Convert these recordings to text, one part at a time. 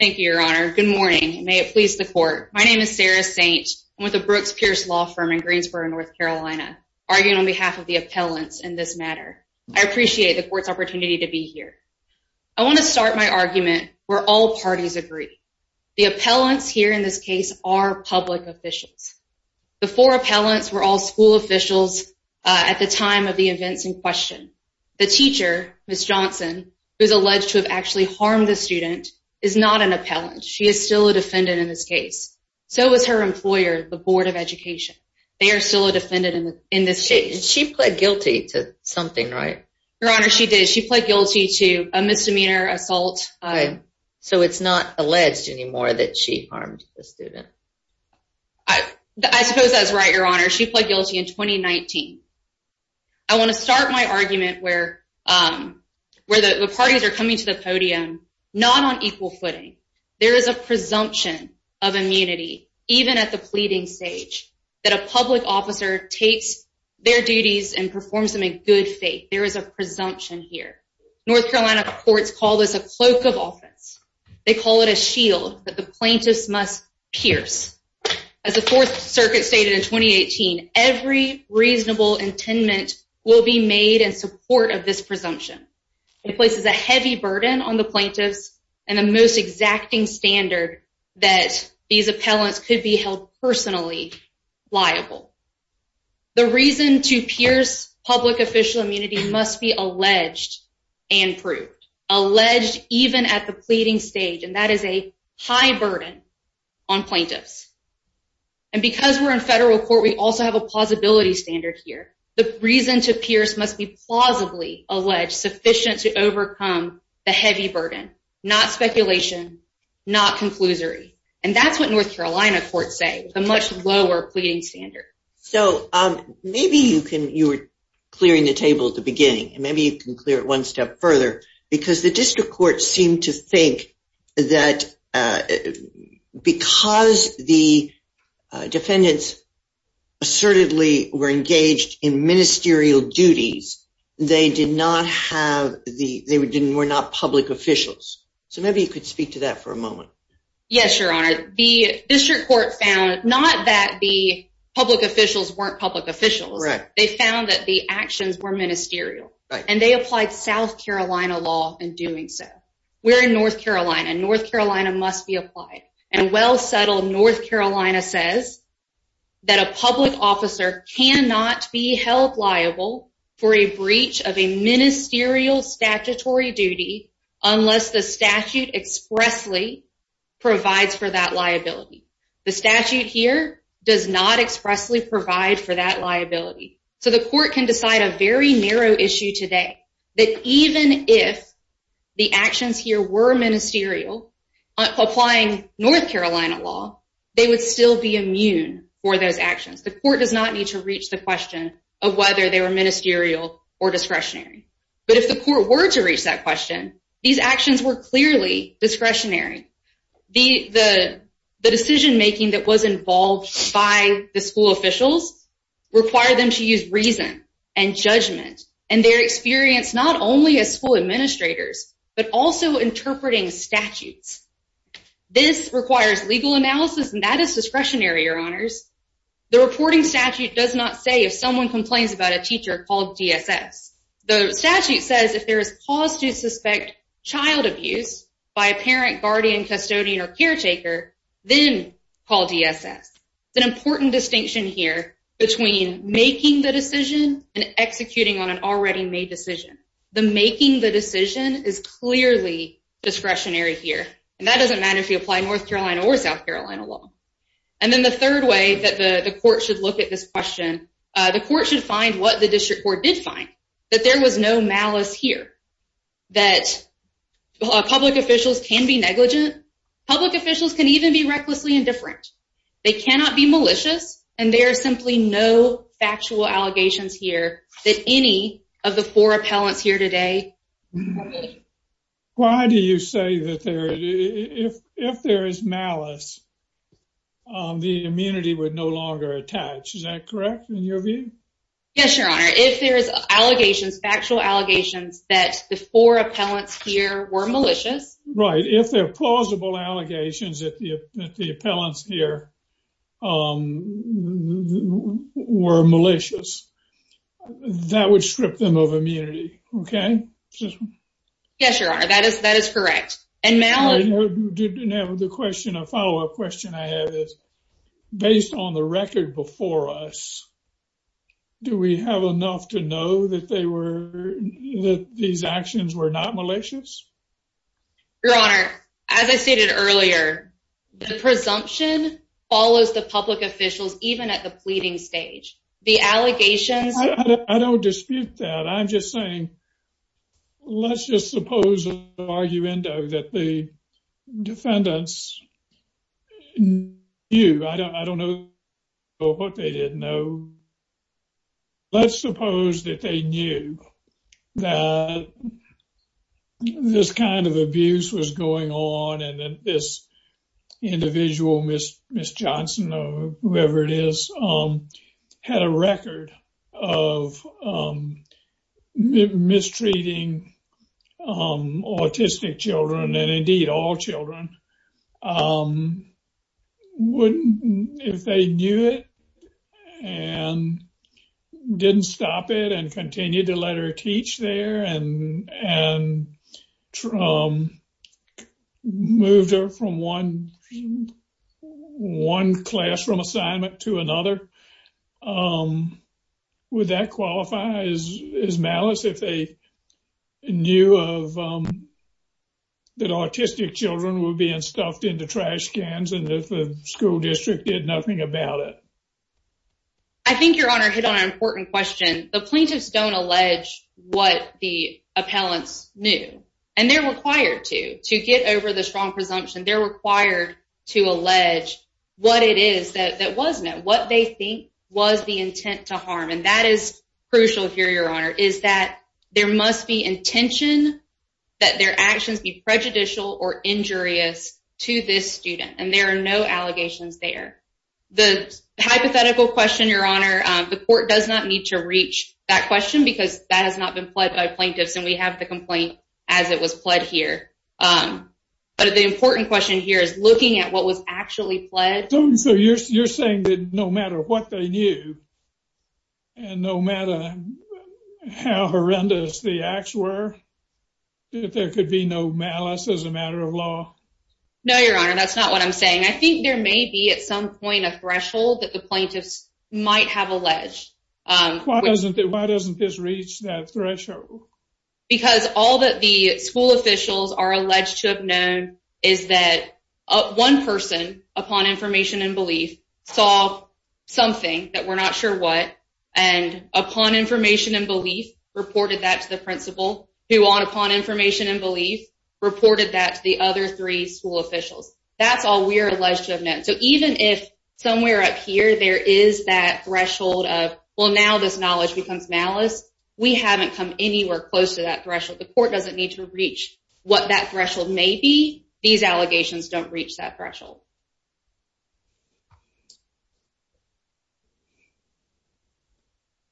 Thank you, Your Honor. Good morning, and may it please the Court. My name is Sarah Saint. I'm with the Brooks Pierce Law Firm in Greensboro, North Carolina, arguing on behalf of the appellants in this matter. I appreciate the Court's opportunity to be here. I want to start my argument where all parties agree. The appellants here in this case are public officials. The four appellants were all school officials at the time of the events in question. The teacher, Ms. Johnson, who's alleged to have actually harmed the student, is not an appellant. She is still a defendant in this case. So is her employer, the Board of Education. They are still a defendant in this case. She pled guilty to something, right? Your Honor, she did. She pled guilty to a misdemeanor assault. So it's not alleged anymore that she harmed the student? I suppose that's right, Your Honor. She pled guilty in 2019. I want to start my argument where the parties are coming to the podium not on equal footing. There is a presumption of immunity even at the pleading stage that a public officer takes their duties and performs them in good faith. There is a presumption here. North Carolina courts call this a cloak of offense. They call it a shield that the plaintiffs must pierce. As the Fourth Circuit stated in 2018, every reasonable intendment will be made in support of this presumption. It places a heavy burden on the plaintiffs and the most exacting standard that these appellants could be held personally liable. The reason to pierce public official immunity must be alleged and proved. Alleged even at the pleading stage, and that is a high burden on plaintiffs. And because we're in federal court, we also have a plausibility standard here. The reason to pierce must be plausibly alleged sufficient to overcome the heavy burden, not speculation, not conclusory. And that's what North Carolina courts say, the much lower pleading standard. So maybe you were clearing the table at the beginning, and maybe you can clear it because the district court seemed to think that because the defendants assertedly were engaged in ministerial duties, they were not public officials. So maybe you could speak to that for a moment. Yes, your honor. The district court found not that the public officials weren't public officials. They found that the actions were ministerial, and they applied South Carolina law in doing so. We're in North Carolina, and North Carolina must be applied. And well settled, North Carolina says that a public officer cannot be held liable for a breach of a ministerial statutory duty unless the statute expressly provides for that liability. The statute here does not expressly provide for that liability. So the court can decide a very narrow issue today that even if the actions here were ministerial applying North Carolina law, they would still be immune for those actions. The court does not need to reach the question of whether they were ministerial or discretionary. But if the court were to reach that question, these actions were involved by the school officials, require them to use reason and judgment and their experience not only as school administrators, but also interpreting statutes. This requires legal analysis, and that is discretionary, your honors. The reporting statute does not say if someone complains about a teacher called DSS. The statute says if there is cause to suspect child abuse by a parent, guardian, custodian, or caretaker, then call DSS. It's an important distinction here between making the decision and executing on an already made decision. The making the decision is clearly discretionary here, and that doesn't matter if you apply North Carolina or South Carolina law. And then the third way that the court should look at this question, the court should court did find that there was no malice here, that public officials can be negligent. Public officials can even be recklessly indifferent. They cannot be malicious, and there are simply no factual allegations here that any of the four appellants here today. Why do you say that if there is malice, the immunity would no longer attach? Is that correct in your view? Yes, your honor. If there's allegations, factual allegations, that the four appellants here were malicious. Right, if they're plausible allegations that the appellants here were malicious, that would strip them of immunity, okay? Yes, your honor, that is correct. Now, the follow-up question I have is, based on the record before us, do we have enough to know that these actions were not malicious? Your honor, as I stated earlier, the presumption follows the public officials even at the pleading stage. The allegations- I don't dispute that. I'm just saying, let's just suppose an argument that the defendants knew. I don't know what they didn't know. Let's suppose that they knew that this kind of abuse was going on and that this individual, Ms. Johnson or whoever it is, had a record of mistreating autistic children and indeed all children. If they knew it and didn't stop it and continued to let her teach there and moved her from one classroom assignment to another, would that qualify as malice if they knew that autistic children were being stuffed into trash cans and if the school district did nothing about it? I think your honor hit on an important question. The plaintiffs don't allege what the appellants knew and they're required to. To get over the strong presumption, they're required to allege what it is that wasn't it. What they think was the intent to harm and that is crucial here, your honor, is that there must be intention that their actions be prejudicial or injurious to this student and there are no allegations there. The hypothetical question, the court does not need to reach that question because that has not been pled by plaintiffs and we have the complaint as it was pled here. But the important question here is looking at what was actually pled. So you're saying that no matter what they knew and no matter how horrendous the acts were, that there could be no malice as a matter of law? No, your honor, that's not what I'm saying. I think there may be at some point a threshold that the plaintiffs might have alleged. Why doesn't this reach that threshold? Because all that the school officials are alleged to have known is that one person upon information and belief saw something that we're not sure what and upon information and belief reported that to the principal who on upon information and belief reported that to the other three school officials. That's all we're alleged to have met. So even if somewhere up here there is that threshold of well now this knowledge becomes malice, we haven't come anywhere close to that threshold. The court doesn't need to reach what that threshold may be. These allegations don't reach that threshold.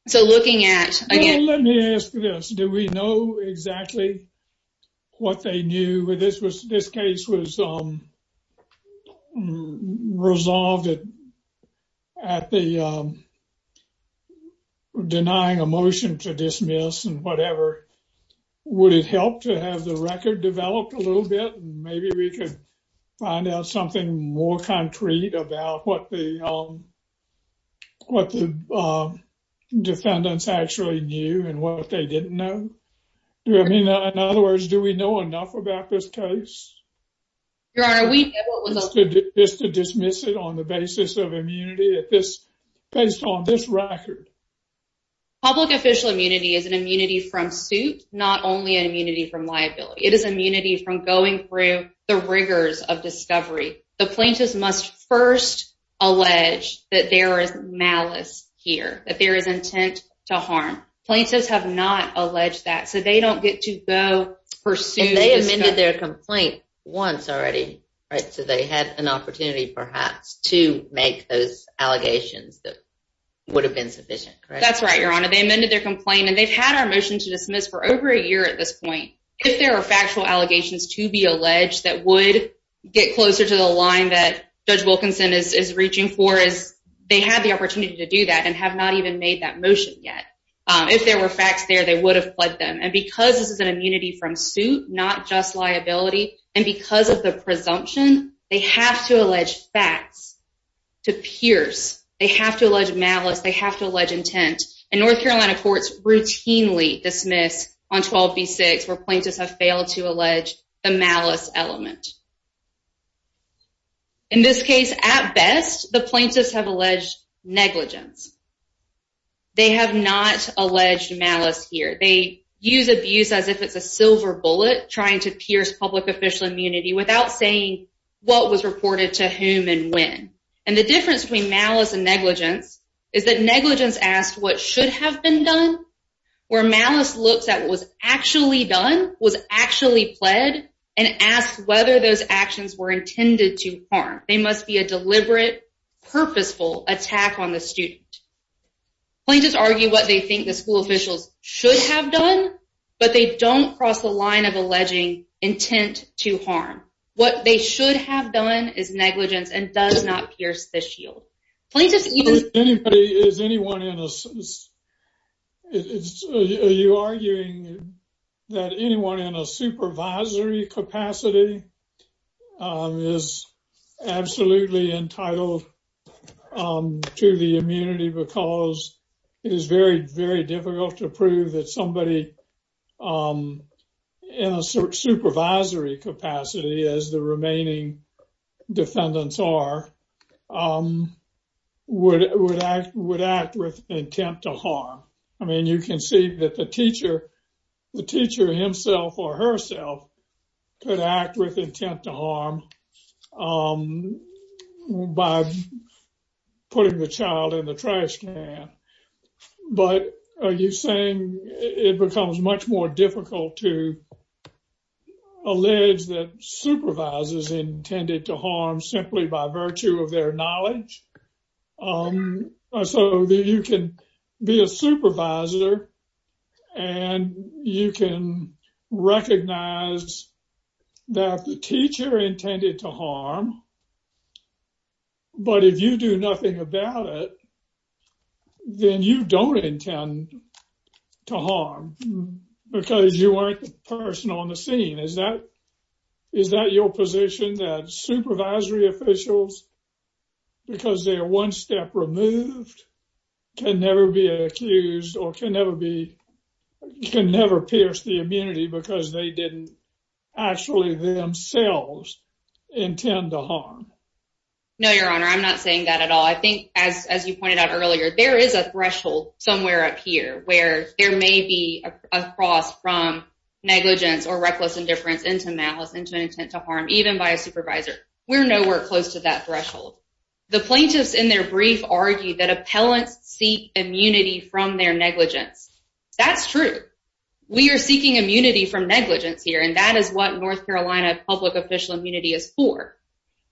So looking at, again, let me ask this, do we know exactly what they knew? This was this case was resolved at the denying a motion to dismiss and whatever. Would it help to have the record developed a little bit? Maybe we could find out something more about that. More concrete about what the defendants actually knew and what they didn't know. In other words, do we know enough about this case? Just to dismiss it on the basis of immunity based on this record. Public official immunity is an immunity from suit, not only an immunity from liability. It is from going through the rigors of discovery. The plaintiffs must first allege that there is malice here, that there is intent to harm. Plaintiffs have not alleged that so they don't get to go pursue. They amended their complaint once already, right? So they had an opportunity perhaps to make those allegations that would have been sufficient. That's right, Your Honor. They amended their complaint and they've had our motion to dismiss for over a year at this point. If there are factual allegations to be alleged that would get closer to the line that Judge Wilkinson is reaching for, they had the opportunity to do that and have not even made that motion yet. If there were facts there, they would have pledged them. And because this is an immunity from suit, not just liability, and because of the presumption, they have to allege facts to pierce. They have to allege malice. They have to allege intent. And North Carolina courts routinely dismiss on 12b6 where plaintiffs have failed to allege the malice element. In this case, at best, the plaintiffs have alleged negligence. They have not alleged malice here. They use abuse as if it's a silver bullet trying to pierce public official immunity without saying what was reported to whom and when. And the difference between malice and negligence is that negligence asks what should have been done, where malice looks at what was actually done, was actually pled, and asks whether those actions were intended to harm. They must be a deliberate, purposeful attack on the student. Plaintiffs argue what they think the school officials should have done, but they don't cross the line of alleging intent to harm. What they should have done is negligence and does not pierce the shield. Are you arguing that anyone in a supervisory capacity is absolutely entitled to the immunity because it is very, very difficult to prove that somebody in a supervisory capacity, as the remaining defendants are, would act with intent to harm? I mean, you can see that the teacher himself or herself could act with intent to harm by putting the child in the trash can. But are you saying it becomes much more difficult to allege that supervisors intended to harm simply by virtue of their knowledge? So that you can be a supervisor and you can recognize that the teacher intended to harm, but if you do nothing about it, then you don't intend to harm because you weren't the person on the scene. Is that your position that supervisory officials, because they are one step removed, can never be accused or can never be, can never pierce the immunity because they didn't actually themselves intend to harm? No, your honor. I'm not saying that at all. I think as you pointed out earlier, there is a threshold somewhere up here where there may be a cross from negligence or reckless indifference into malice, into an intent to harm, even by a supervisor. We're nowhere close to that threshold. The plaintiffs in their brief argued that appellants seek immunity from their negligence. That's true. We are seeking immunity from negligence here, that is what North Carolina public official immunity is for.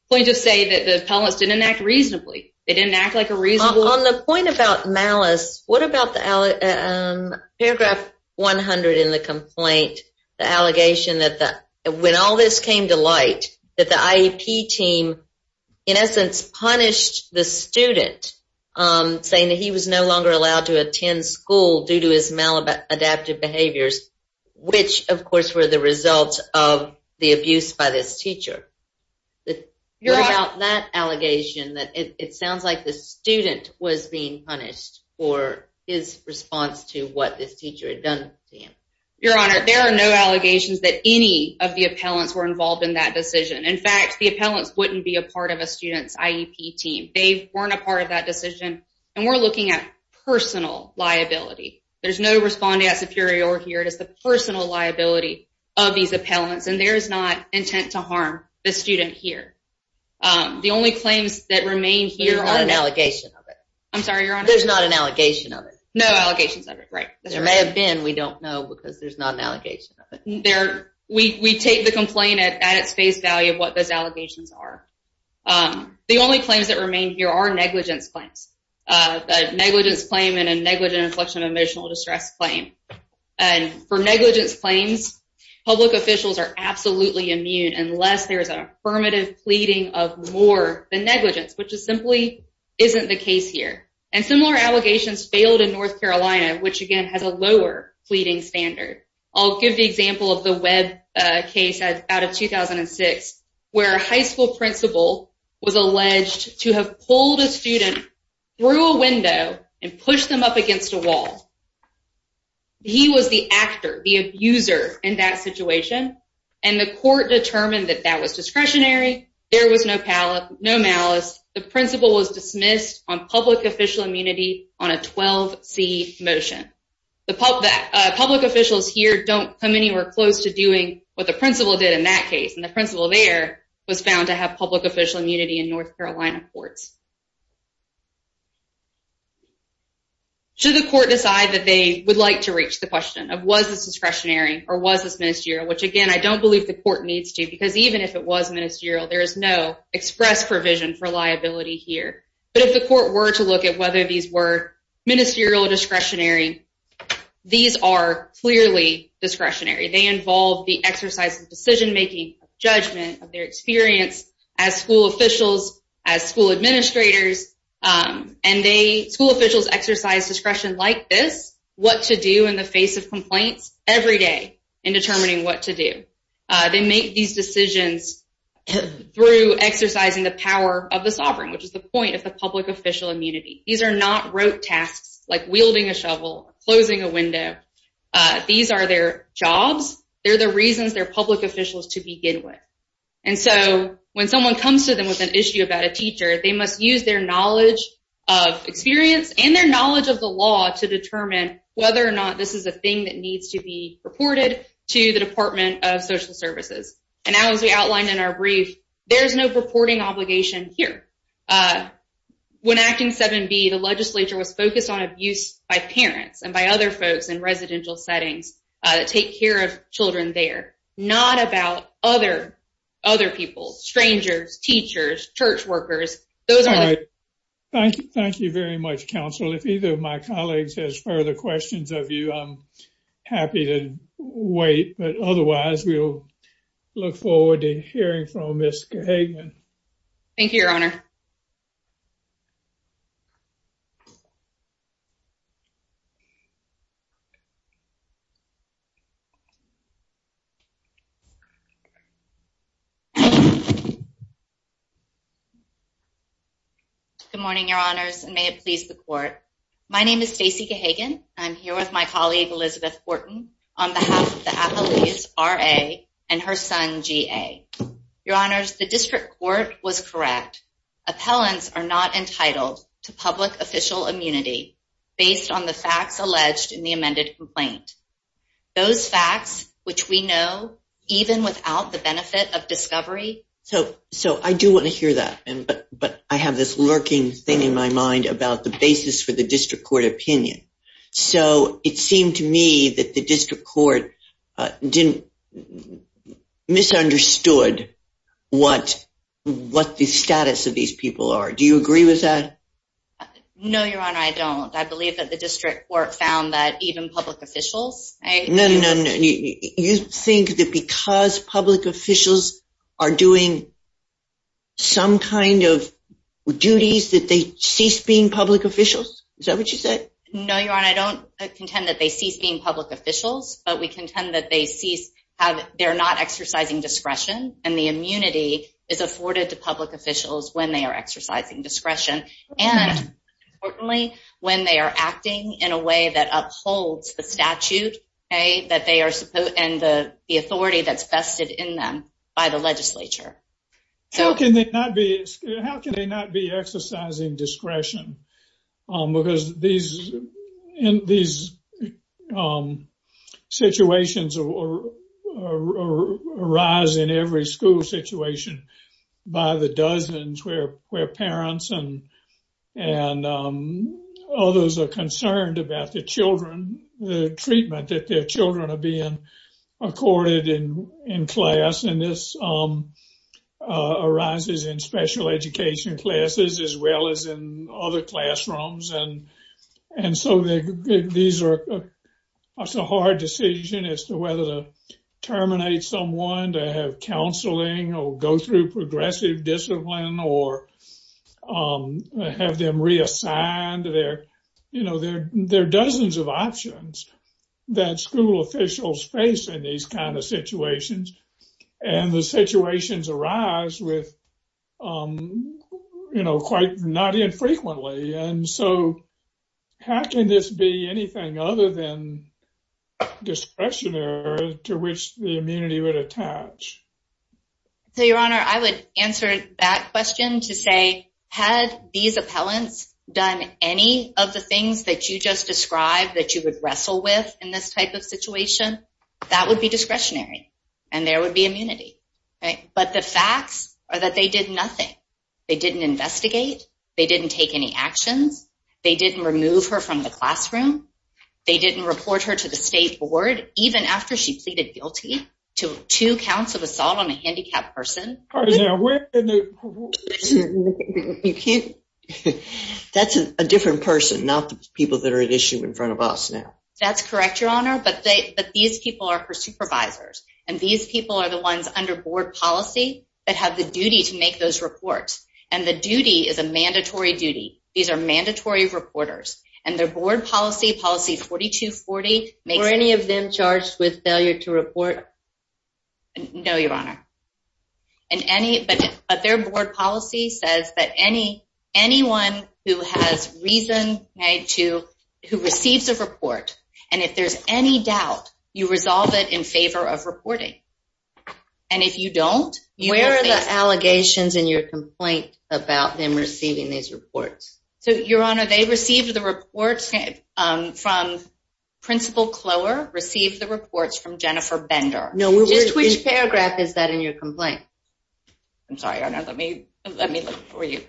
Plaintiffs say that the appellants didn't act reasonably. They didn't act like a reasonable... On the point about malice, what about paragraph 100 in the complaint, the allegation that when all this came to light, that the IEP team, in essence, punished the student saying that he was no longer allowed to attend school due to his maladaptive behaviors, which of course were the result of the abuse by this teacher. What about that allegation that it sounds like the student was being punished for his response to what this teacher had done to him? Your honor, there are no allegations that any of the appellants were involved in that decision. In fact, the appellants wouldn't be a part of a student's IEP team. They weren't a part of that decision and we're looking at personal liability. There's no respondent superior here. It is the personal liability of these appellants and there is not intent to harm the student here. The only claims that remain here are... There's not an allegation of it. I'm sorry, your honor? There's not an allegation of it. No allegations of it, right. There may have been, we don't know because there's not an allegation of it. We take the complaint at its face value of what those allegations are. The only claims that remain here are negligence claims. A negligence claim and a negligent inflection emotional distress claim. And for negligence claims, public officials are absolutely immune unless there's an affirmative pleading of more than negligence, which is simply isn't the case here. And similar allegations failed in North Carolina, which again has a lower pleading standard. I'll give the example of the Webb case out of 2006, where a high school principal was alleged to have pulled a student through a window and pushed them up against a wall. He was the actor, the abuser in that situation. And the court determined that that was discretionary. There was no pallet, no malice. The principal was dismissed on public official immunity on a 12c motion. The public officials here don't come anywhere close to doing what the principal did in that case. And the principal there was found to have public official immunity in North Carolina courts. Should the court decide that they would like to reach the question of was this discretionary or was this ministerial, which again, I don't believe the court needs to because even if it was ministerial, there is no express provision for liability here. But if the court were to look at whether these were ministerial or discretionary, these are clearly discretionary. They involve the exercise of decision making, judgment of their experience as school officials, as school administrators. And they, school officials exercise discretion like this, what to do in the face of complaints every day in determining what to do. They make these decisions through exercising the not rote tasks like wielding a shovel, closing a window. These are their jobs. They're the reasons they're public officials to begin with. And so when someone comes to them with an issue about a teacher, they must use their knowledge of experience and their knowledge of the law to determine whether or not this is a thing that needs to be reported to the Department of Social Services. And now as we outlined in our brief, there's no purporting obligation here. When acting 7b, the legislature was focused on abuse by parents and by other folks in residential settings that take care of children there, not about other people, strangers, teachers, church workers. Thank you very much, counsel. If either of my colleagues has further questions of you, I'm happy to wait. But otherwise, we'll look forward to hearing from Ms. Hagan. Thank you, your honor. Thank you. Good morning, your honors. And may it please the court. My name is Stacy Hagan. I'm here with my colleague, Elizabeth Wharton, on behalf of the athletes are a and her son, G. A. Your honors, the district court was correct. appellants are not entitled to public official immunity, based on the facts alleged in the amended complaint. Those facts, which we know, even without the benefit of discovery. So, so I do want to hear that. And but but I have this lurking thing in my mind about the basis for the district court opinion. So it seemed to me that the district court didn't misunderstood what what the status of these people are. Do you agree with that? No, your honor, I don't. I believe that the district court found that even public officials, I know you think that because public officials are doing some kind of duties that they cease being public officials. Is that what you said? No, your honor, I don't contend that they cease being public officials, but we contend that they cease how they're not exercising discretion and the immunity is afforded to public officials when they are exercising discretion. And importantly, when they are acting in a way that upholds the statute, a that they are supposed and the authority that's vested in them by the legislature. So can they not be? How can they not be exercising discretion? Because these in these situations arise in every school situation by the dozens where where parents and and others are concerned about the children, the treatment that their children are being accorded in in class. And this arises in special education classes as well as in other classrooms. And and so these are a hard decision as to whether to terminate someone to have counseling or go through progressive discipline or um, have them reassigned their, you know, their their dozens of options that school officials face in these kind of situations. And the situations arise with, you know, quite not infrequently. And so how can this be anything other than discretionary to which the immunity would attach? So your honor, I would answer that question to had these appellants done any of the things that you just described that you would wrestle with in this type of situation, that would be discretionary and there would be immunity. Right. But the facts are that they did nothing. They didn't investigate. They didn't take any actions. They didn't remove her from the classroom. They didn't report her to the state board even after she pleaded guilty to two counts of assault on a handicapped person. You can't. That's a different person, not the people that are at issue in front of us now. That's correct, your honor. But these people are for supervisors and these people are the ones under board policy that have the duty to make those reports. And the duty is a mandatory duty. These are mandatory reporters and their board policy, policy 4240. Were any of them charged with failure to report? No, your honor. But their board policy says that anyone who has reason to, who receives a report, and if there's any doubt, you resolve it in favor of reporting. And if you don't- Where are the allegations in your complaint about them receiving these reports? So your honor, they received the reports from Principal Clower, received the reports from Jennifer Bender. Just which paragraph is that in your complaint? I'm sorry, let me look for you.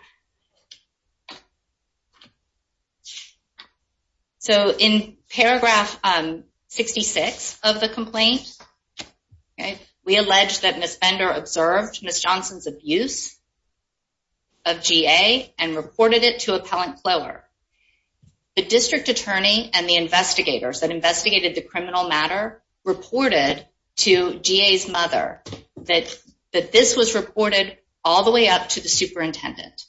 So in paragraph 66 of the complaint, we allege that Ms. Bender observed Ms. Johnson's abuse of GA and reported it to Appellant Clower. The district attorney and the investigators that investigated the criminal matter reported to GA's mother that this was reported all the way up to the superintendent.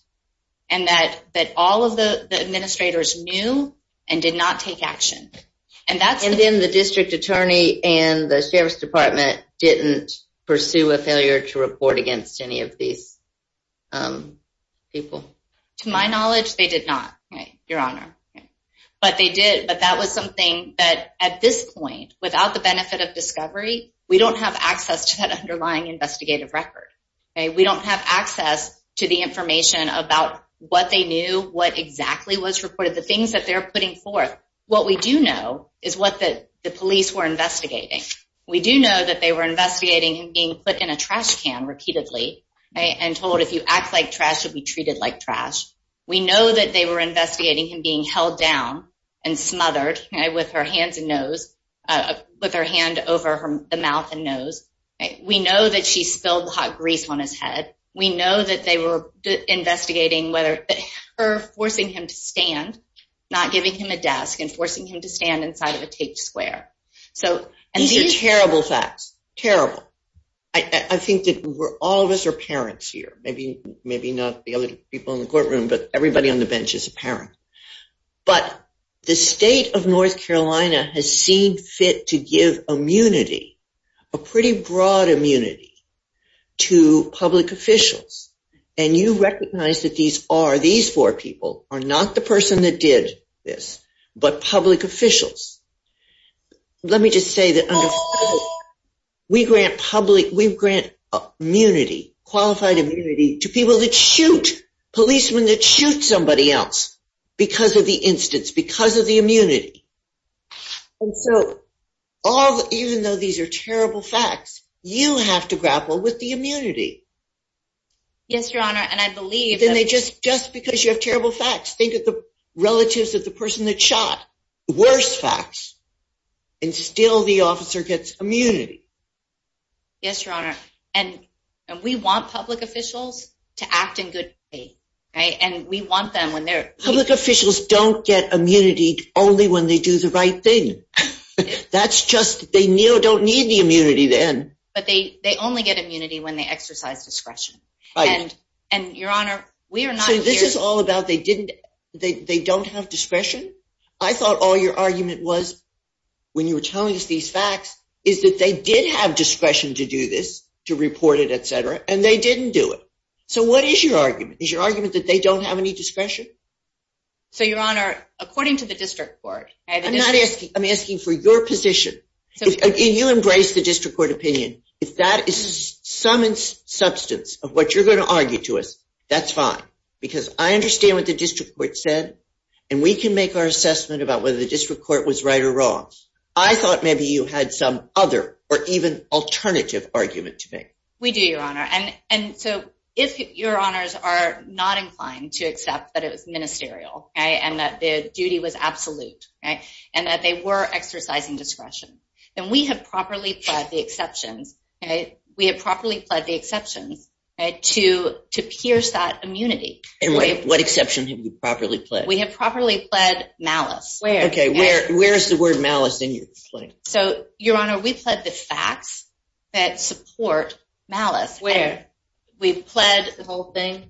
And that all of the administrators knew and did not take action. And then the district attorney and the sheriff's department didn't pursue a failure to report against any of these people. To my knowledge, they did not, your honor. But that was something that at this point, without the benefit of discovery, we don't have access to that underlying investigative record. We don't have access to the information about what they knew, what exactly was reported, the things that they're putting forth. What we do know is what the police were investigating. We do know that they were investigating him being put in a trash can repeatedly and told, if you act like trash, you'll be treated like trash. We know that they were investigating him being held down and smothered with her hands and nose, with her hand over the mouth and nose. We know that she spilled hot grease on his head. We know that they were investigating whether her forcing him to stand, not giving him a desk and forcing him to stand inside of a taped square. So these are terrible facts. Terrible. I think that all of us are parents here. Maybe not the other people in the courtroom, but everybody on the bench is a parent. But the state of North Carolina has seemed fit to give immunity, a pretty broad immunity, to public officials. And you recognize that these four people are not the person that did this, but public officials. Let me just say that we grant public, we grant immunity, qualified immunity, to people that shoot, policemen that shoot somebody else because of the instance, because of the immunity. And so even though these are terrible facts, you have to grapple with the immunity. Yes, Your Honor, and I believe- Then they just, just because you have terrible facts, think of the and still the officer gets immunity. Yes, Your Honor. And we want public officials to act in good faith, right? And we want them when they're- Public officials don't get immunity only when they do the right thing. That's just, they don't need the immunity then. But they only get immunity when they exercise discretion. And Your Honor, we are not- So this is all about they didn't, they don't have discretion? I thought all your argument was when you were telling us these facts, is that they did have discretion to do this, to report it, et cetera, and they didn't do it. So what is your argument? Is your argument that they don't have any discretion? So Your Honor, according to the district court- I'm not asking, I'm asking for your position. You embrace the district court opinion. If that is some substance of what you're going to argue to us, that's fine. Because I understand what the district court said, and we can make our assessment about whether the district court was right or wrong. I thought maybe you had some other, or even alternative argument to make. We do, Your Honor. And so if Your Honors are not inclined to accept that it was ministerial, and that the duty was absolute, and that they were exercising discretion, then we have properly pled the exceptions. We have properly pled the exceptions to pierce that immunity. And what exception have you properly pled? We have properly pled malice. Where? Okay, where is the word malice in your plea? So Your Honor, we pled the facts that support malice. Where? We pled- The whole thing?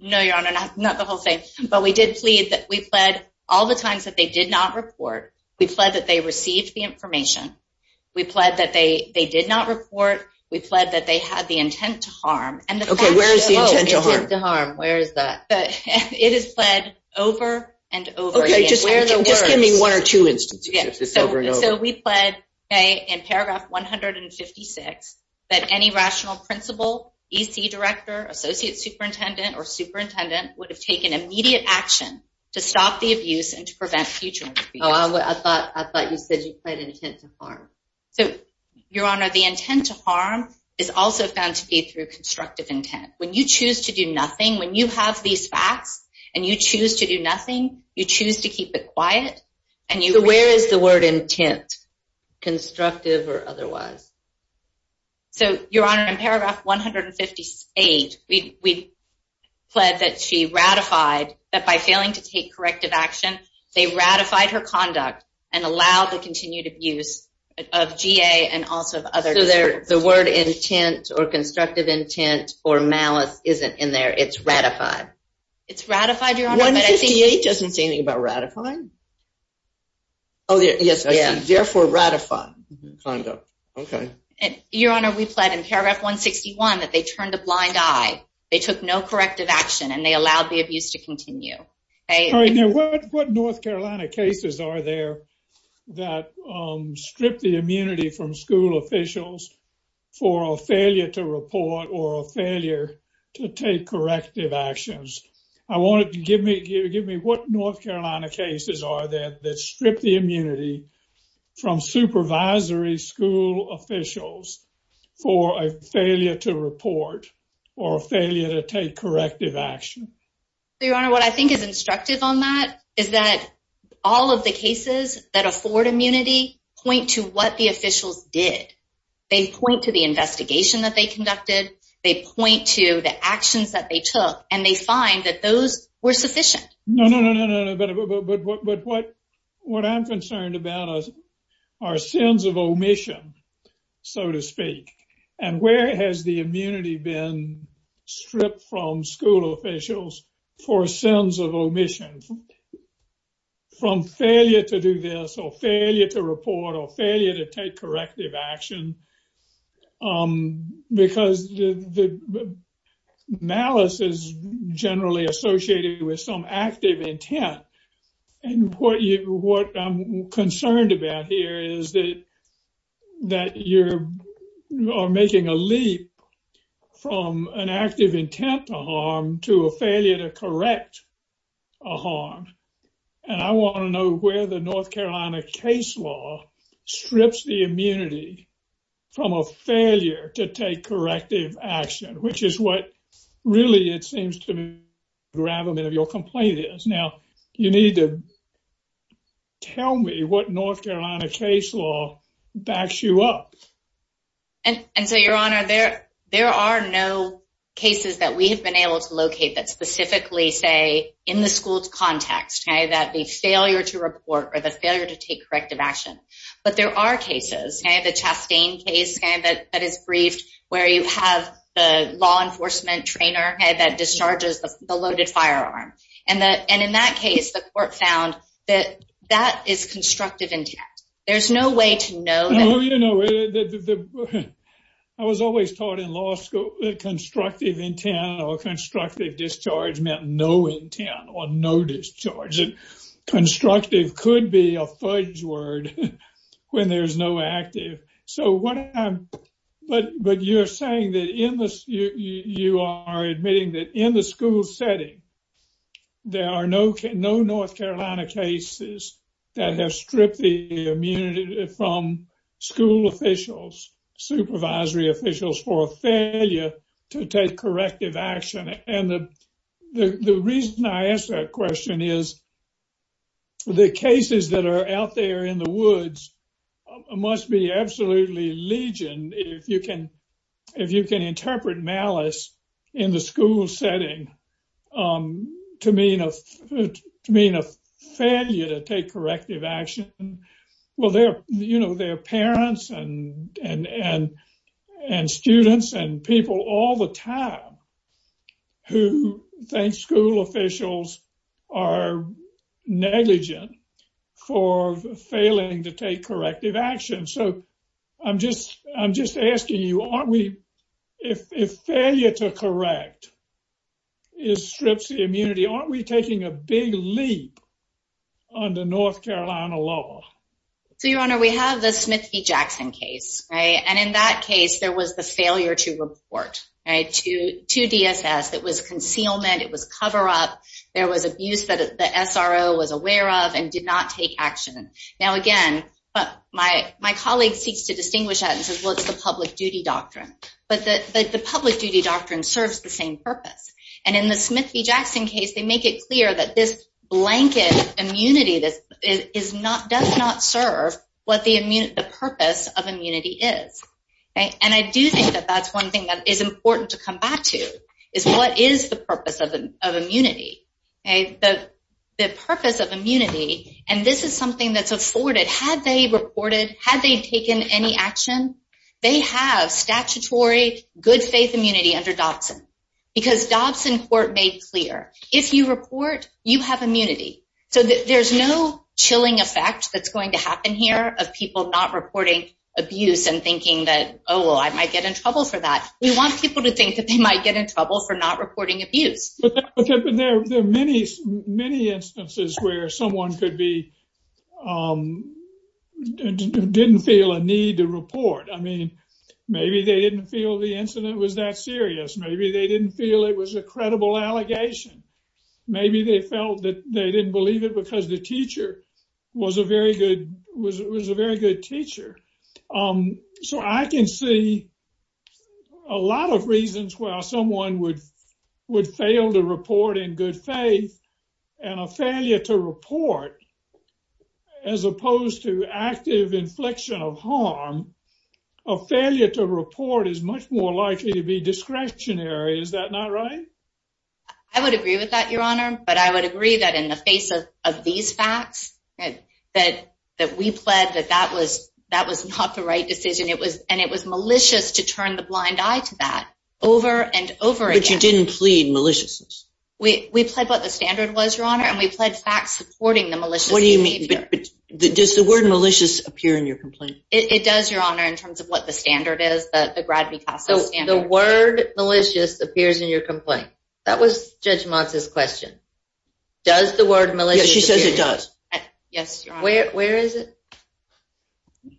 No, Your Honor, not the whole thing. But we did plead that we pled all the times that they did not report. We pled that they received the information. We pled that they did not report. We pled that they had the intent to harm. Okay, where is the intent to harm? Where is that? It is pled over and over again. Okay, just give me one or two instances, just over and over. So we pled in paragraph 156 that any rational principal, EC director, associate superintendent, or superintendent would have taken immediate action to stop the abuse and to prevent future- Oh, I thought you said you pled intent to harm. So Your Honor, the intent to harm is also found to be through constructive intent. When you choose to do nothing, when you have these facts and you choose to do nothing, you choose to keep it quiet and you- So where is the word intent, constructive or otherwise? So Your Honor, in paragraph 158, we pled that she ratified that by failing to take corrective action, they ratified her conduct and allowed the continued abuse of GA and also of other- The word intent or constructive intent or malice isn't in there. It's ratified. It's ratified, Your Honor, but I think- 158 doesn't say anything about ratifying. Oh, yes, I see. Therefore ratified conduct. Okay. Your Honor, we pled in paragraph 161 that they turned a blind eye. They took no corrective action and they allowed the abuse to continue. All right, now what North Carolina cases are there that strip the immunity from school officials for a failure to report or a failure to take corrective actions? I want you to give me what North Carolina cases are there that strip the immunity from supervisory school officials for a failure to report or a failure to take corrective action? Your Honor, what I think is instructive on that is that all of the cases that afford immunity point to what the officials did. They point to the investigation that they conducted. They point to the actions that they took and they find that those were sufficient. No, no, no, no, but what I'm concerned about are sins of omission, so to speak, and where has the immunity been stripped from school officials for sins of omission? From failure to do this or failure to report or failure to take corrective action because the malice is generally associated with some active intent. And what I'm concerned about here is that you're making a leap from an active intent to harm to a failure to correct a harm. And I want to know where the North Carolina case law strips the immunity from a failure to take corrective action, which is what really it seems to me the gravamen of your complaint is. Now, you need to tell me what North Carolina case law backs you up. And so, Your Honor, there are no cases that we have been able to locate that specifically say in the school's context that the failure to report or the failure to take corrective action. But there are cases, the Chastain case that is briefed where you have the law enforcement trainer that discharges the loaded firearm. And in that case, the court found that that is constructive intent. There's no way to know. I was always taught in law school that constructive intent or constructive discharge meant no intent or no discharge. Constructive could be a fudge word when there's no active. So, but you're saying that in this, you are admitting that in the school setting, there are no North Carolina cases that have stripped the immunity from school officials, supervisory officials for a failure to take corrective action. And the reason I ask that question is the cases that are out there in the woods must be absolutely legion if you can interpret malice in the school setting to mean a failure to take corrective action. Well, there are parents and students and people all the time who think school officials are negligent for failing to take corrective action. So, I'm just asking you, aren't we, if failure to correct strips the immunity, aren't we taking a big leap under North Carolina law? So, Your Honor, we have the Smith v. Jackson case, right? And in that case, there was the failure to report to DSS. It was concealment. It was cover up. There was abuse that the SRO was aware of and did not take action. Now, again, my colleague seeks to distinguish that and says, well, it's the public duty doctrine. But the public duty doctrine serves the same purpose. And in the Smith v. Jackson case, they make it clear that this blanket immunity does not serve what the purpose of immunity is. And I do think that that's one thing that is important to come back to, is what is the purpose of immunity? The purpose of immunity, and this is something that's afforded, had they reported, had they taken any action, they have statutory good faith immunity under Dobson. Because Dobson court made clear, if you report, you have immunity. So, there's no chilling effect that's going to happen here of people not reporting abuse and thinking that, oh, well, I might get in trouble for that. We want people to think that they might get in trouble for not reporting abuse. But there are many, many instances where someone could be, didn't feel a need to report. I mean, maybe they didn't feel the incident was that serious. Maybe they didn't feel it was a credible allegation. Maybe they felt that they didn't believe it because the teacher was a very good teacher. Um, so I can see a lot of reasons why someone would fail to report in good faith and a failure to report, as opposed to active inflection of harm, a failure to report is much more likely to be discretionary. Is that not right? I would agree with that, Your Honor. But I would agree that in the face of these facts, that we pled that that was not the right decision. It was, and it was malicious to turn the blind eye to that over and over again. But you didn't plead maliciousness. We pled what the standard was, Your Honor. And we pled facts supporting the malicious behavior. What do you mean? But does the word malicious appear in your complaint? It does, Your Honor, in terms of what the standard is, the Grad-B CASA standard. The word malicious appears in your complaint. That was Judge Motz's question. Does the word malicious appear? Yes, she says it does. Yes, Your Honor. Where is it?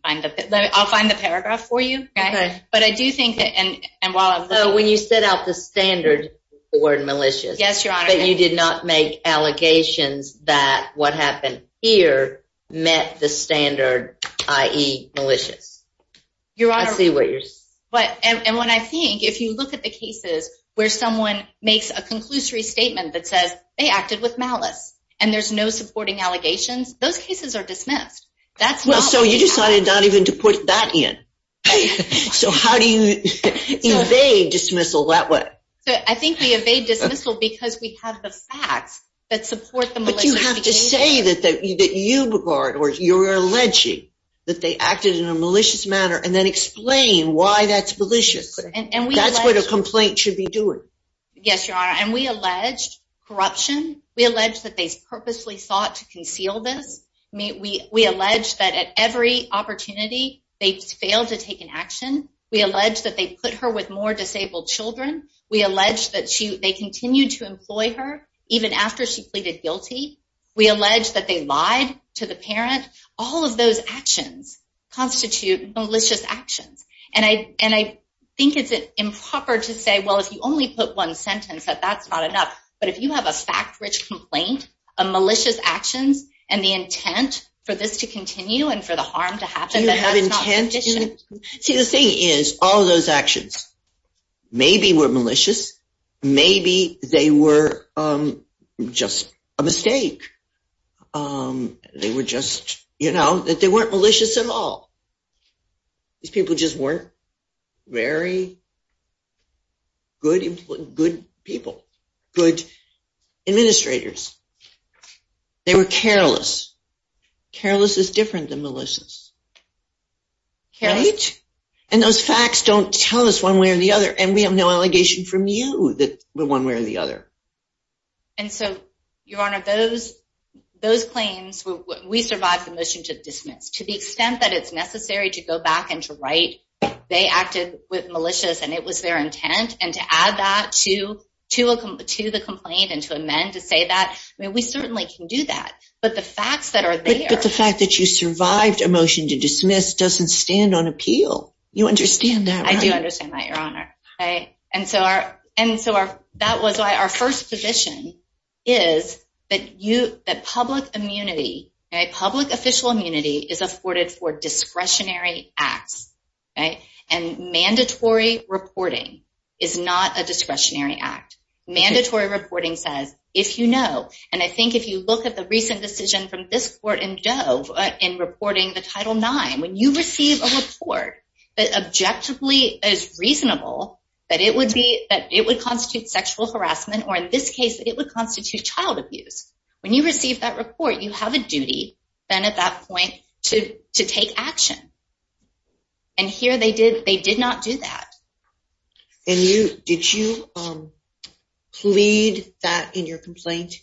I'll find the paragraph for you, okay? But I do think that, and while I'm looking... So when you set out the standard, the word malicious. Yes, Your Honor. But you did not make allegations that what happened here met the standard, i.e. malicious. Your Honor... I see where you're... And when I think, if you look at the cases where someone makes a conclusory statement that says they acted with malice and there's no supporting allegations, those cases are dismissed. That's not... Well, so you decided not even to put that in. So how do you evade dismissal that way? So I think we evade dismissal because we have the facts that support the malicious behavior. But you have to say that you regard or you're alleging that they acted in a malicious manner and then explain why that's malicious. That's what a complaint should be doing. Yes, Your Honor. And we alleged corruption. We alleged that they purposely sought to conceal this. I mean, we allege that at every opportunity, they failed to take an action. We allege that they put her with more disabled children. We allege that they continued to employ her even after she pleaded guilty. We allege that they lied to the parent. All of those actions constitute malicious actions. And I think it's improper to say, well, if you only put one sentence, that that's not enough. But if you have a fact-rich complaint, a malicious actions, and the intent for this to continue and for the harm to happen... Do you have intent? See, the thing is, all those actions maybe were malicious. Maybe they were just a mistake. Um, they were just, you know, that they weren't malicious at all. These people just weren't very good people, good administrators. They were careless. Careless is different than malicious. Right? And those facts don't tell us one way or the other. And we have no allegation from you that we're one way or the other. And so, Your Honor, those claims, we survived the motion to dismiss. To the extent that it's necessary to go back and to write, they acted malicious and it was their intent. And to add that to the complaint and to amend to say that, I mean, we certainly can do that. But the facts that are there... But the fact that you survived a motion to dismiss doesn't stand on appeal. You understand that, right? I do understand that, Your Honor. Right? And so, that was why our first position is that public immunity, right, public official immunity is afforded for discretionary acts, right? And mandatory reporting is not a discretionary act. Mandatory reporting says, if you know, and I think if you look at the recent decision from this court in Dove in reporting the Title IX, when you receive a report that objectively is reasonable, that it would constitute sexual harassment, or in this case, it would constitute child abuse. When you receive that report, you have a duty then at that point to take action. And here they did not do that. And did you plead that in your complaint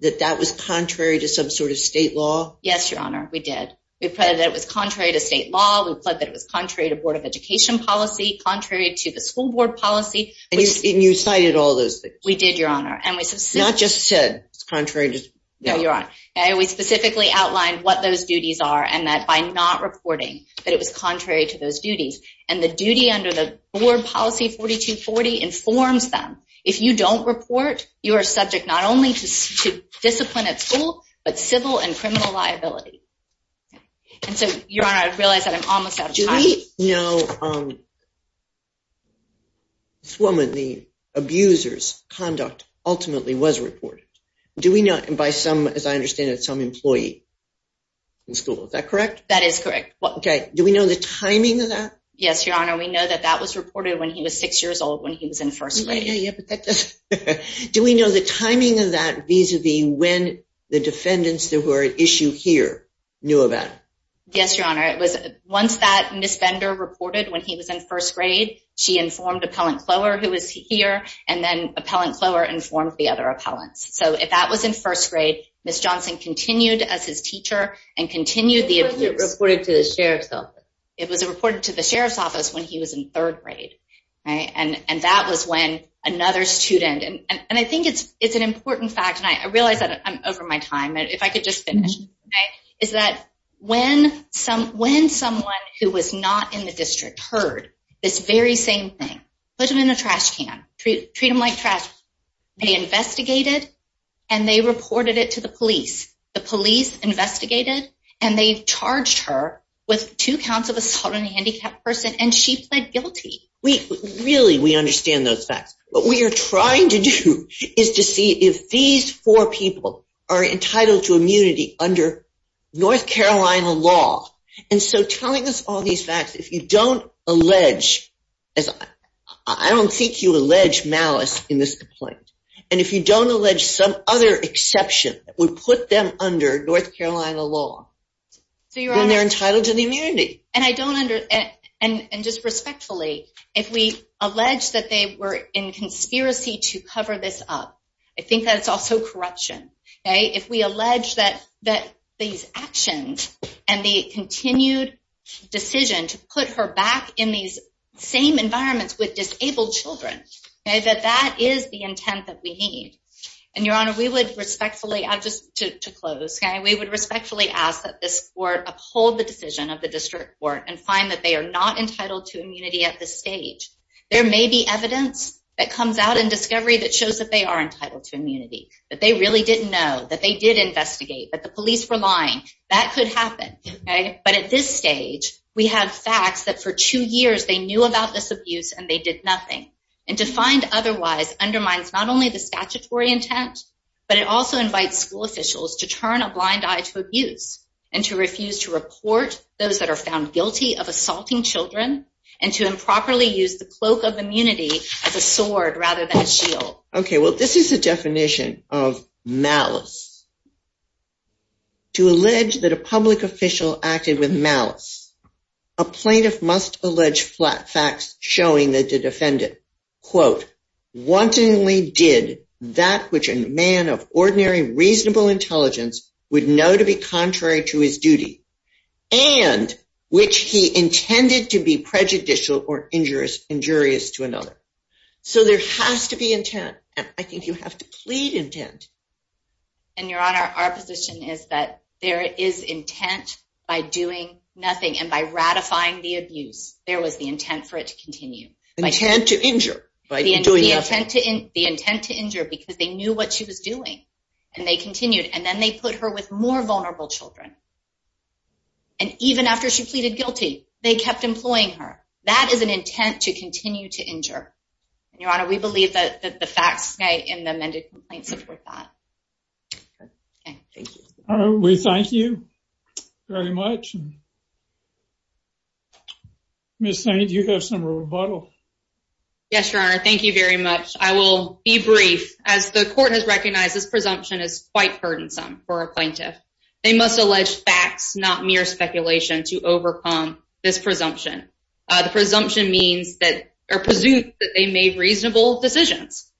that that was contrary to some sort of state law? Yes, Your Honor, we did. We pledged that it was contrary to state law. We pledged that it was contrary to Board of Education policy, contrary to the school board policy. And you cited all those things? We did, Your Honor. And we said... Not just said, it's contrary to... No, Your Honor. And we specifically outlined what those duties are, and that by not reporting, that it was contrary to those duties. And the duty under the board policy 4240 informs them. If you don't report, you are subject not only to discipline at school, And so, Your Honor, I realize that I'm almost out of time. Do we know this woman, the abuser's conduct ultimately was reported? Do we know by some, as I understand it, some employee in school? Is that correct? That is correct. Okay. Do we know the timing of that? Yes, Your Honor. We know that that was reported when he was six years old, when he was in first grade. Do we know the timing of that vis-a-vis when the defendants that were at issue here knew about it? Yes, Your Honor. Once that Ms. Bender reported when he was in first grade, she informed Appellant Clower, who was here, and then Appellant Clower informed the other appellants. So if that was in first grade, Ms. Johnson continued as his teacher and continued the abuse. But it was reported to the sheriff's office. It was reported to the sheriff's office when he was in third grade. And that was when another student... And I think it's an important fact, and I realize that I'm over my time. If I could just finish. Is that when someone who was not in the district heard this very same thing, put them in a trash can, treat them like trash. They investigated, and they reported it to the police. The police investigated, and they charged her with two counts of assault on a handicapped person, and she pled guilty. Really, we understand those facts. What we are trying to do is to see if these four people are entitled to immunity under North Carolina law. And so telling us all these facts, if you don't allege... I don't think you allege malice in this complaint. And if you don't allege some other exception that would put them under North Carolina law, then they're entitled to the immunity. And I don't under... And just respectfully, if we allege that they were in conspiracy to cover this up, I think that it's also corruption. If we allege that these actions and the continued decision to put her back in these same environments with disabled children, that that is the intent that we need. And Your Honor, we would respectfully... I'll just... To close, we would respectfully ask that this court uphold the decision of the district court and find that they are not entitled to immunity at this stage. There may be evidence that comes out in discovery that shows that they are entitled to immunity, that they really didn't know, that they did investigate, that the police were lying. That could happen. But at this stage, we have facts that for two years they knew about this abuse and they did nothing. And to find otherwise undermines not only the statutory intent, but it also invites school officials to turn a blind eye to abuse and to refuse to report those that are found guilty of assaulting children and to improperly use the cloak of immunity as a sword rather than a shield. Okay. Well, this is a definition of malice. To allege that a public official acted with malice, a plaintiff must allege flat facts showing that the defendant, quote, to his duty and which he intended to be prejudicial or injurious to another. So there has to be intent. And I think you have to plead intent. And Your Honor, our position is that there is intent by doing nothing. And by ratifying the abuse, there was the intent for it to continue. Intent to injure by doing nothing. The intent to injure because they knew what she was doing and they continued. And then they put her with more vulnerable children. And even after she pleaded guilty, they kept employing her. That is an intent to continue to injure. And Your Honor, we believe that the facts in the amended complaint support that. Okay. Thank you. All right. We thank you very much. Ms. Knight, you have some rebuttal. Yes, Your Honor. Thank you very much. I will be brief. As the court has recognized, this presumption is quite burdensome for a plaintiff. They must allege facts, not mere speculation, to overcome this presumption. The presumption means that they made reasonable decisions.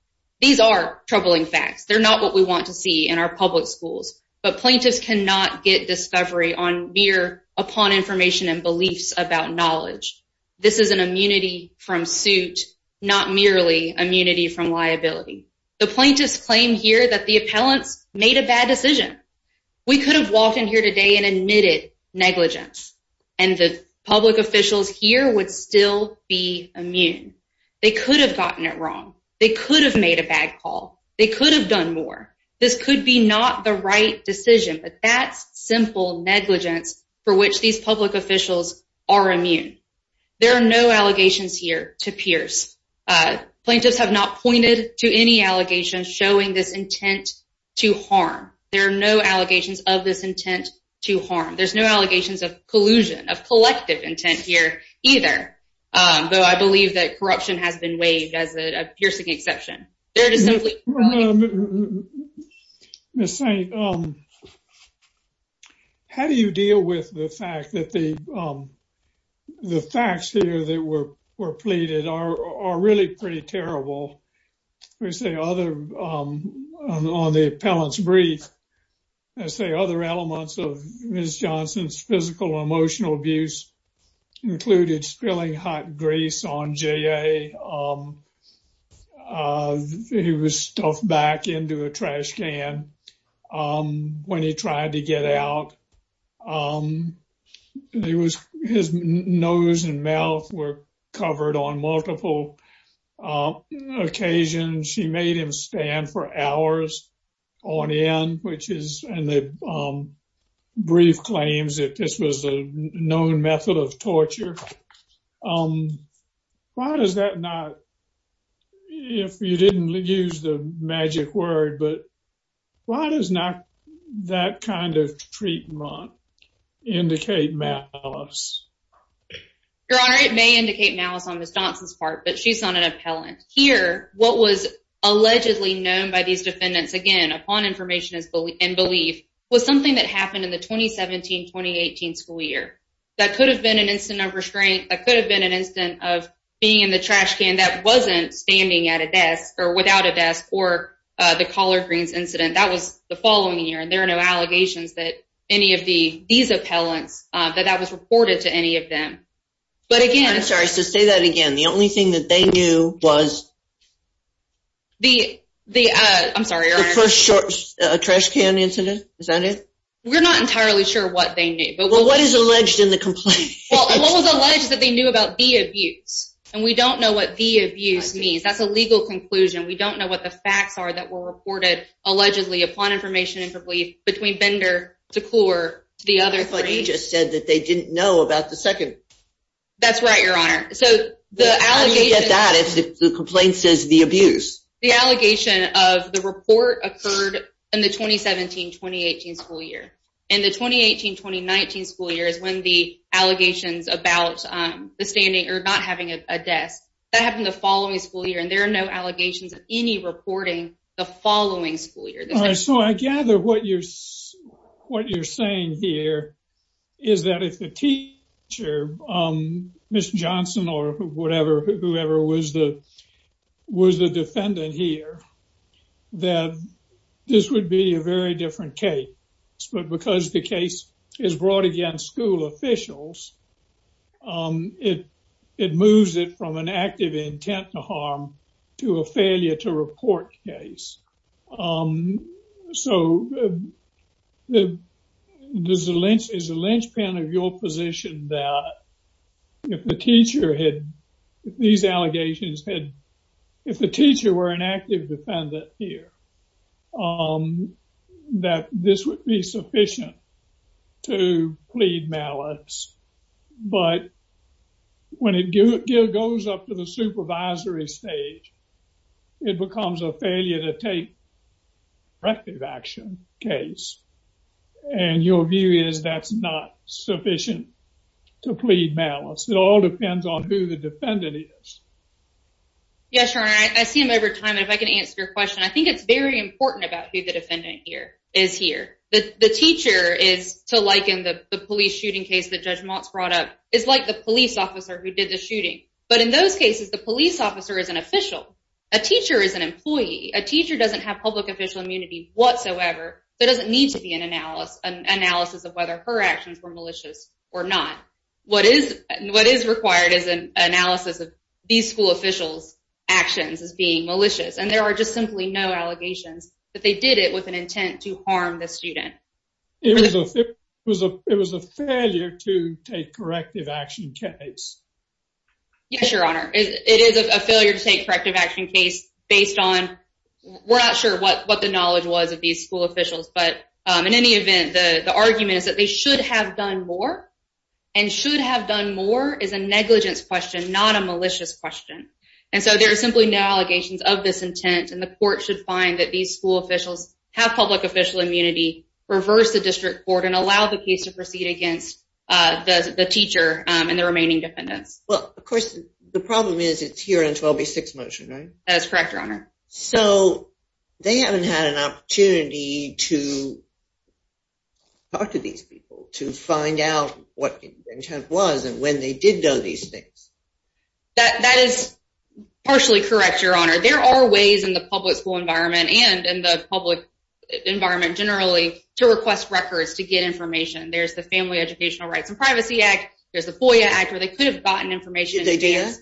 These are troubling facts. They're not what we want to see in our public schools. But plaintiffs cannot get discovery on mere upon information and beliefs about knowledge. This is an immunity from suit, not merely immunity from liability. The plaintiffs claim here that the appellants made a bad decision. We could have walked in here today and admitted negligence. And the public officials here would still be immune. They could have gotten it wrong. They could have made a bad call. They could have done more. This could be not the right decision. But that's simple negligence for which these public officials are immune. There are no allegations here to Pierce. Plaintiffs have not pointed to any allegations showing this intent to harm. There are no allegations of this intent to harm. There's no allegations of collusion, of collective intent here either. Though I believe that corruption has been waived as a piercing exception. Ms. Saint, how do you deal with the fact that the facts here that were are really pretty terrible? We say other on the appellant's brief. I say other elements of Ms. Johnson's physical emotional abuse included spilling hot grease on J.A. He was stuffed back into a trash can when he tried to get out. His nose and mouth were covered on multiple occasions. She made him stand for hours on end, which is in the brief claims that this was a known method of torture. Why does that not, if you didn't use the magic word, but why does not that kind of treatment indicate malice? Your Honor, it may indicate malice on Ms. Johnson's part, but she's not an appellant. Here, what was allegedly known by these defendants, again upon information and belief, was something that happened in the 2017-2018 school year. That could have been an incident of restraint. That could have been an incident of being in the trash can that wasn't standing at a desk or without a desk or the collard greens incident. That was the following year. There are no allegations that any of these appellants, that that was reported to any of them. But again... I'm sorry. So say that again. The only thing that they knew was... I'm sorry, Your Honor. The first trash can incident. Is that it? We're not entirely sure what they knew. Well, what is alleged in the complaint? Well, what was alleged is that they knew about the abuse. And we don't know what the abuse means. That's a legal conclusion. We don't know what the facts are that were reported allegedly upon information and belief between Bender to Kluwer to the other three. I thought you just said that they didn't know about the second. That's right, Your Honor. So the allegation... How do you get that if the complaint says the abuse? The allegation of the report occurred in the 2017-2018 school year. In the 2018-2019 school year is when the allegations about the standing or not having a desk. That happened the following school year. There are no allegations of any reporting the following school year. All right. So I gather what you're saying here is that if the teacher, Ms. Johnson or whoever was the defendant here, that this would be a very different case. But because the case is brought against school officials, it moves it from an active intent to harm to a failure to report case. So is the linchpin of your position that if the teacher had these allegations, if the teacher were an active defendant here, that this would be sufficient to plead malice but when it goes up to the supervisory stage, it becomes a failure to take corrective action case. And your view is that's not sufficient to plead malice. It all depends on who the defendant is. Yes, Your Honor. I see him over time. If I can answer your question, I think it's very important about who the defendant here is here. The teacher is to liken the police shooting case that Judge Motz brought up is like the police officer who did the shooting. But in those cases, the police officer is an official. A teacher is an employee. A teacher doesn't have public official immunity whatsoever. There doesn't need to be an analysis of whether her actions were malicious or not. What is required is an analysis of these school officials' actions as being malicious. And there are just simply no allegations that they did it with an intent to harm the student. It was a failure to take corrective action case. Yes, Your Honor. It is a failure to take corrective action case based on... We're not sure what the knowledge was of these school officials. But in any event, the argument is that they should have done more. And should have done more is a negligence question, not a malicious question. And so there are simply no allegations of this intent. And the court should find that these school officials have public official immunity, reverse the district court, and allow the case to proceed against the teacher and the remaining defendants. Well, of course, the problem is it's here in 12B6 motion, right? That is correct, Your Honor. So they haven't had an opportunity to talk to these people, to find out what the intent was and when they did do these things. That is partially correct, Your Honor. There are ways in the public school environment and in the public environment, generally, to request records to get information. There's the Family Educational Rights and Privacy Act. There's the FOIA Act where they could have gotten information. Did they do that?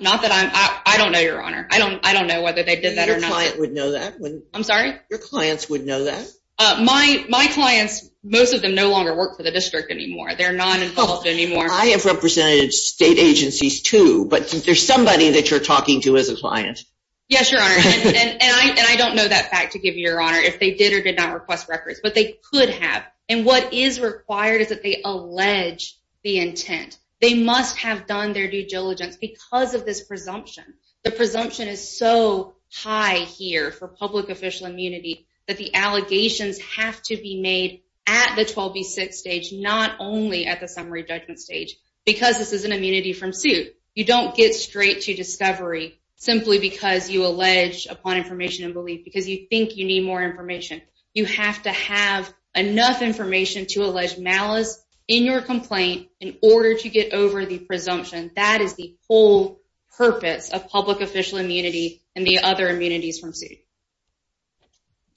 Not that I'm... I don't know, Your Honor. I don't know whether they did that or not. Your client would know that. I'm sorry? Your clients would know that. My clients, most of them no longer work for the district anymore. I have represented state agencies too. But there's somebody that you're talking to as a client. Yes, Your Honor. And I don't know that fact to give you, Your Honor, if they did or did not request records. But they could have. And what is required is that they allege the intent. They must have done their due diligence because of this presumption. The presumption is so high here for public official immunity that the allegations have to be made at the 12B6 stage, not only at the summary judgment stage, because this is an immunity from suit. You don't get straight to discovery simply because you allege upon information and belief because you think you need more information. You have to have enough information to allege malice in your complaint in order to get over the presumption. That is the whole purpose of public official immunity and the other immunities from suit.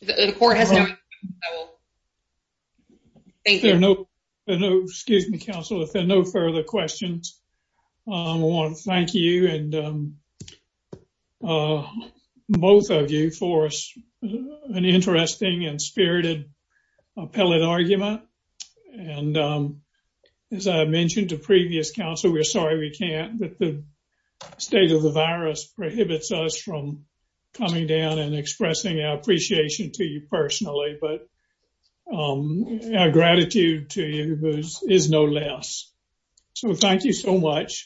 The court has no... Thank you. Excuse me, counsel. If there are no further questions, I want to thank you and both of you for an interesting and spirited appellate argument. And as I mentioned to previous counsel, we're sorry we can't, but the state of the virus prohibits us from coming down and expressing our appreciation to you personally. But our gratitude to you is no less. So thank you so much.